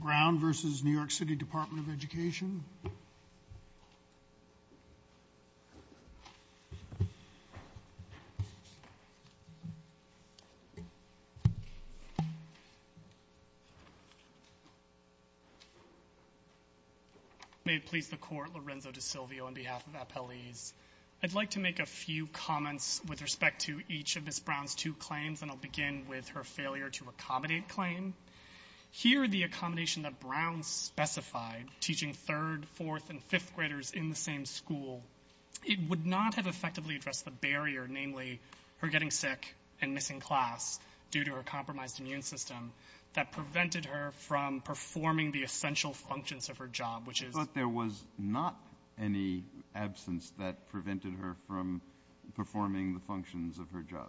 Brown v. New York City Department of Education May it please the Court, Lorenzo DeSilvio on behalf of Appellees. I'd like to make a few comments with respect to each of Ms. Brown's two claims and I'll begin with her failure to accommodate claim. Here, the accommodation that Brown specified, teaching third, fourth, and fifth graders in the same school, it would not have effectively addressed the barrier, namely, her getting sick and missing class due to her compromised immune system that prevented her from performing the essential functions of her job, which is... That prevented her from performing the functions of her job.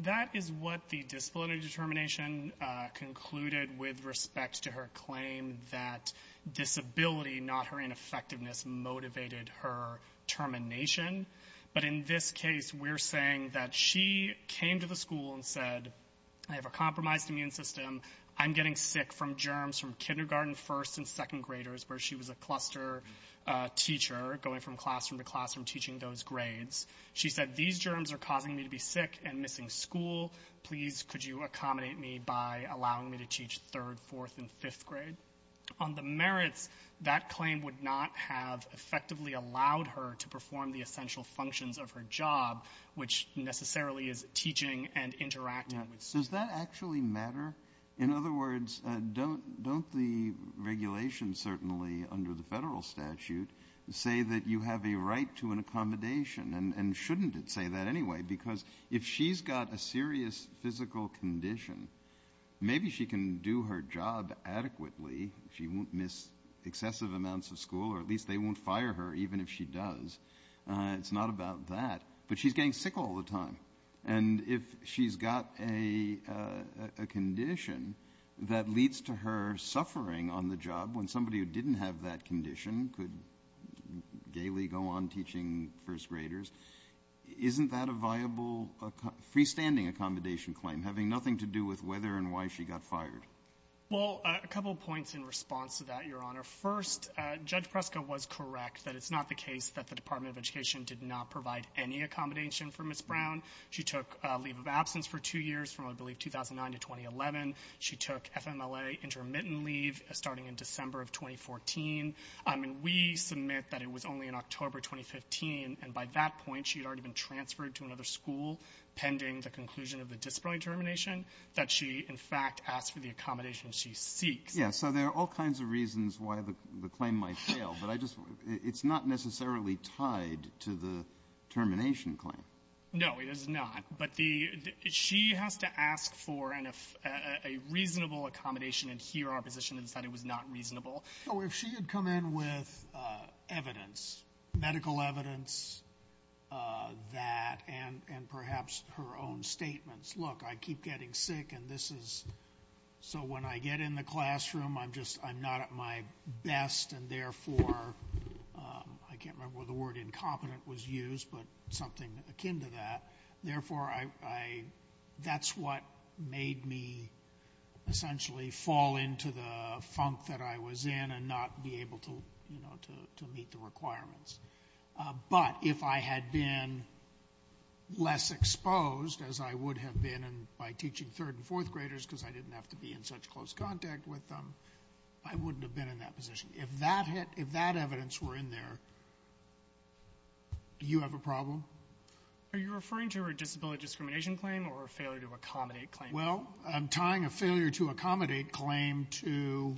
That is what the disciplinary determination concluded with respect to her claim that disability, not her ineffectiveness, motivated her termination. But in this case, we're saying that she came to the school and said, I have a compromised immune system, I'm getting sick from germs from kindergarten, first, and second graders, where she was a cluster teacher, going from classroom to classroom, teaching those grades. She said, these germs are causing me to be sick and missing school. Please, could you accommodate me by allowing me to teach third, fourth, and fifth grade? On the merits, that claim would not have effectively allowed her to perform the essential functions of her job, which necessarily is teaching and interacting with students. Does that actually matter? In other words, don't the regulations, certainly, under the federal statute, say that you have a right to an accommodation? And shouldn't it say that anyway? Because if she's got a serious physical condition, maybe she can do her job adequately. She won't miss excessive amounts of school, or at least they won't fire her, even if she does. It's not about that. But she's getting sick all the time. And if she's got a condition that leads to her suffering on the job, when somebody who didn't have that condition could daily go on teaching first graders, isn't that a viable freestanding accommodation claim, having nothing to do with whether and why she got fired? Well, a couple points in response to that, Your Honor. First, Judge Preska was correct that it's not the case that the Department of Education did not provide any accommodation for Ms. Brown. She took leave of absence for two years from, I believe, 2009 to 2011. She took FMLA intermittent leave starting in December of 2014. And we submit that it was only in October 2015, and by that point she had already been transferred to another school pending the conclusion of the disciplinary termination, that she, in fact, asked for the accommodation she seeks. Yes. So there are all kinds of reasons why the claim might fail. But it's not necessarily tied to the termination claim. No, it is not. But she has to ask for a reasonable accommodation, and here our position is that it was not reasonable. So if she had come in with evidence, medical evidence, that, and perhaps her own statements, look, I keep getting sick and this is so when I get in the classroom I'm not at my best and, therefore, I can't remember what the word is akin to that. Therefore, that's what made me essentially fall into the funk that I was in and not be able to meet the requirements. But if I had been less exposed, as I would have been by teaching third and fourth graders because I didn't have to be in such close contact with them, I wouldn't have been in that position. If that evidence were in there, do you have a problem? Are you referring to her disability discrimination claim or a failure to accommodate claim? Well, I'm tying a failure to accommodate claim to,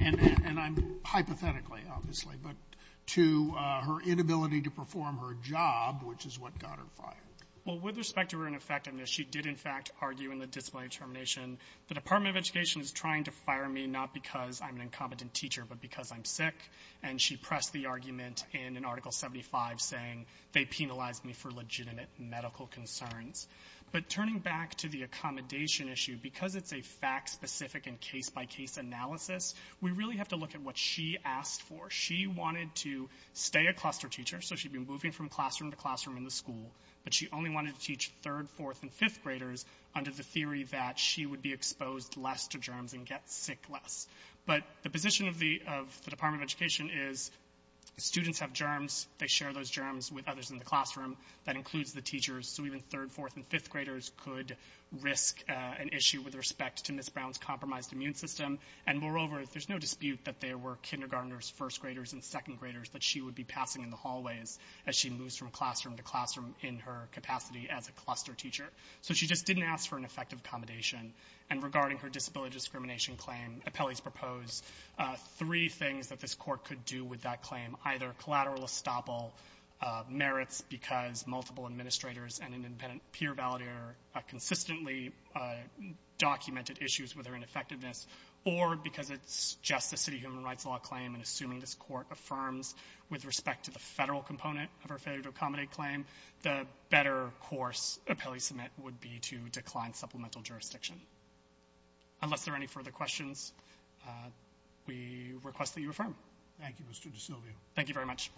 and I'm hypothetically, obviously, but to her inability to perform her job, which is what got her fired. Well, with respect to her ineffectiveness, she did, in fact, argue in the disability termination, the Department of Education is trying to fire me not because I'm an incompetent teacher but because I'm sick, and she pressed the argument in an Article 75 saying they penalized me for legitimate medical concerns. But turning back to the accommodation issue, because it's a fact-specific and case-by-case analysis, we really have to look at what she asked for. She wanted to stay a cluster teacher, so she'd been moving from classroom to classroom in the school, but she only wanted to teach third, fourth, and fifth graders under the theory that she would be exposed less to germs and get sick less. But the position of the Department of Education is students have germs, they share those germs with others in the classroom, that includes the teachers, so even third, fourth, and fifth graders could risk an issue with respect to Ms. Brown's compromised immune system, and moreover, there's no dispute that there were kindergarteners, first graders, and second graders that she would be passing in the hallways as she moves from classroom to classroom in her capacity as a cluster teacher. So she just didn't ask for an effective accommodation. And regarding her disability discrimination claim, Apelli's proposed three things that this Court could do with that claim, either collateral estoppel merits because multiple administrators and an independent peer validator consistently documented issues with her ineffectiveness, or because it's just a city human rights law claim, and assuming this Court affirms with respect to the Federal component of her failure to accommodate claim, the better course Apelli submit would be to decline supplemental jurisdiction. Unless there are any further questions, we request that you affirm. Thank you, Mr. DeSilvio. Thank you very much.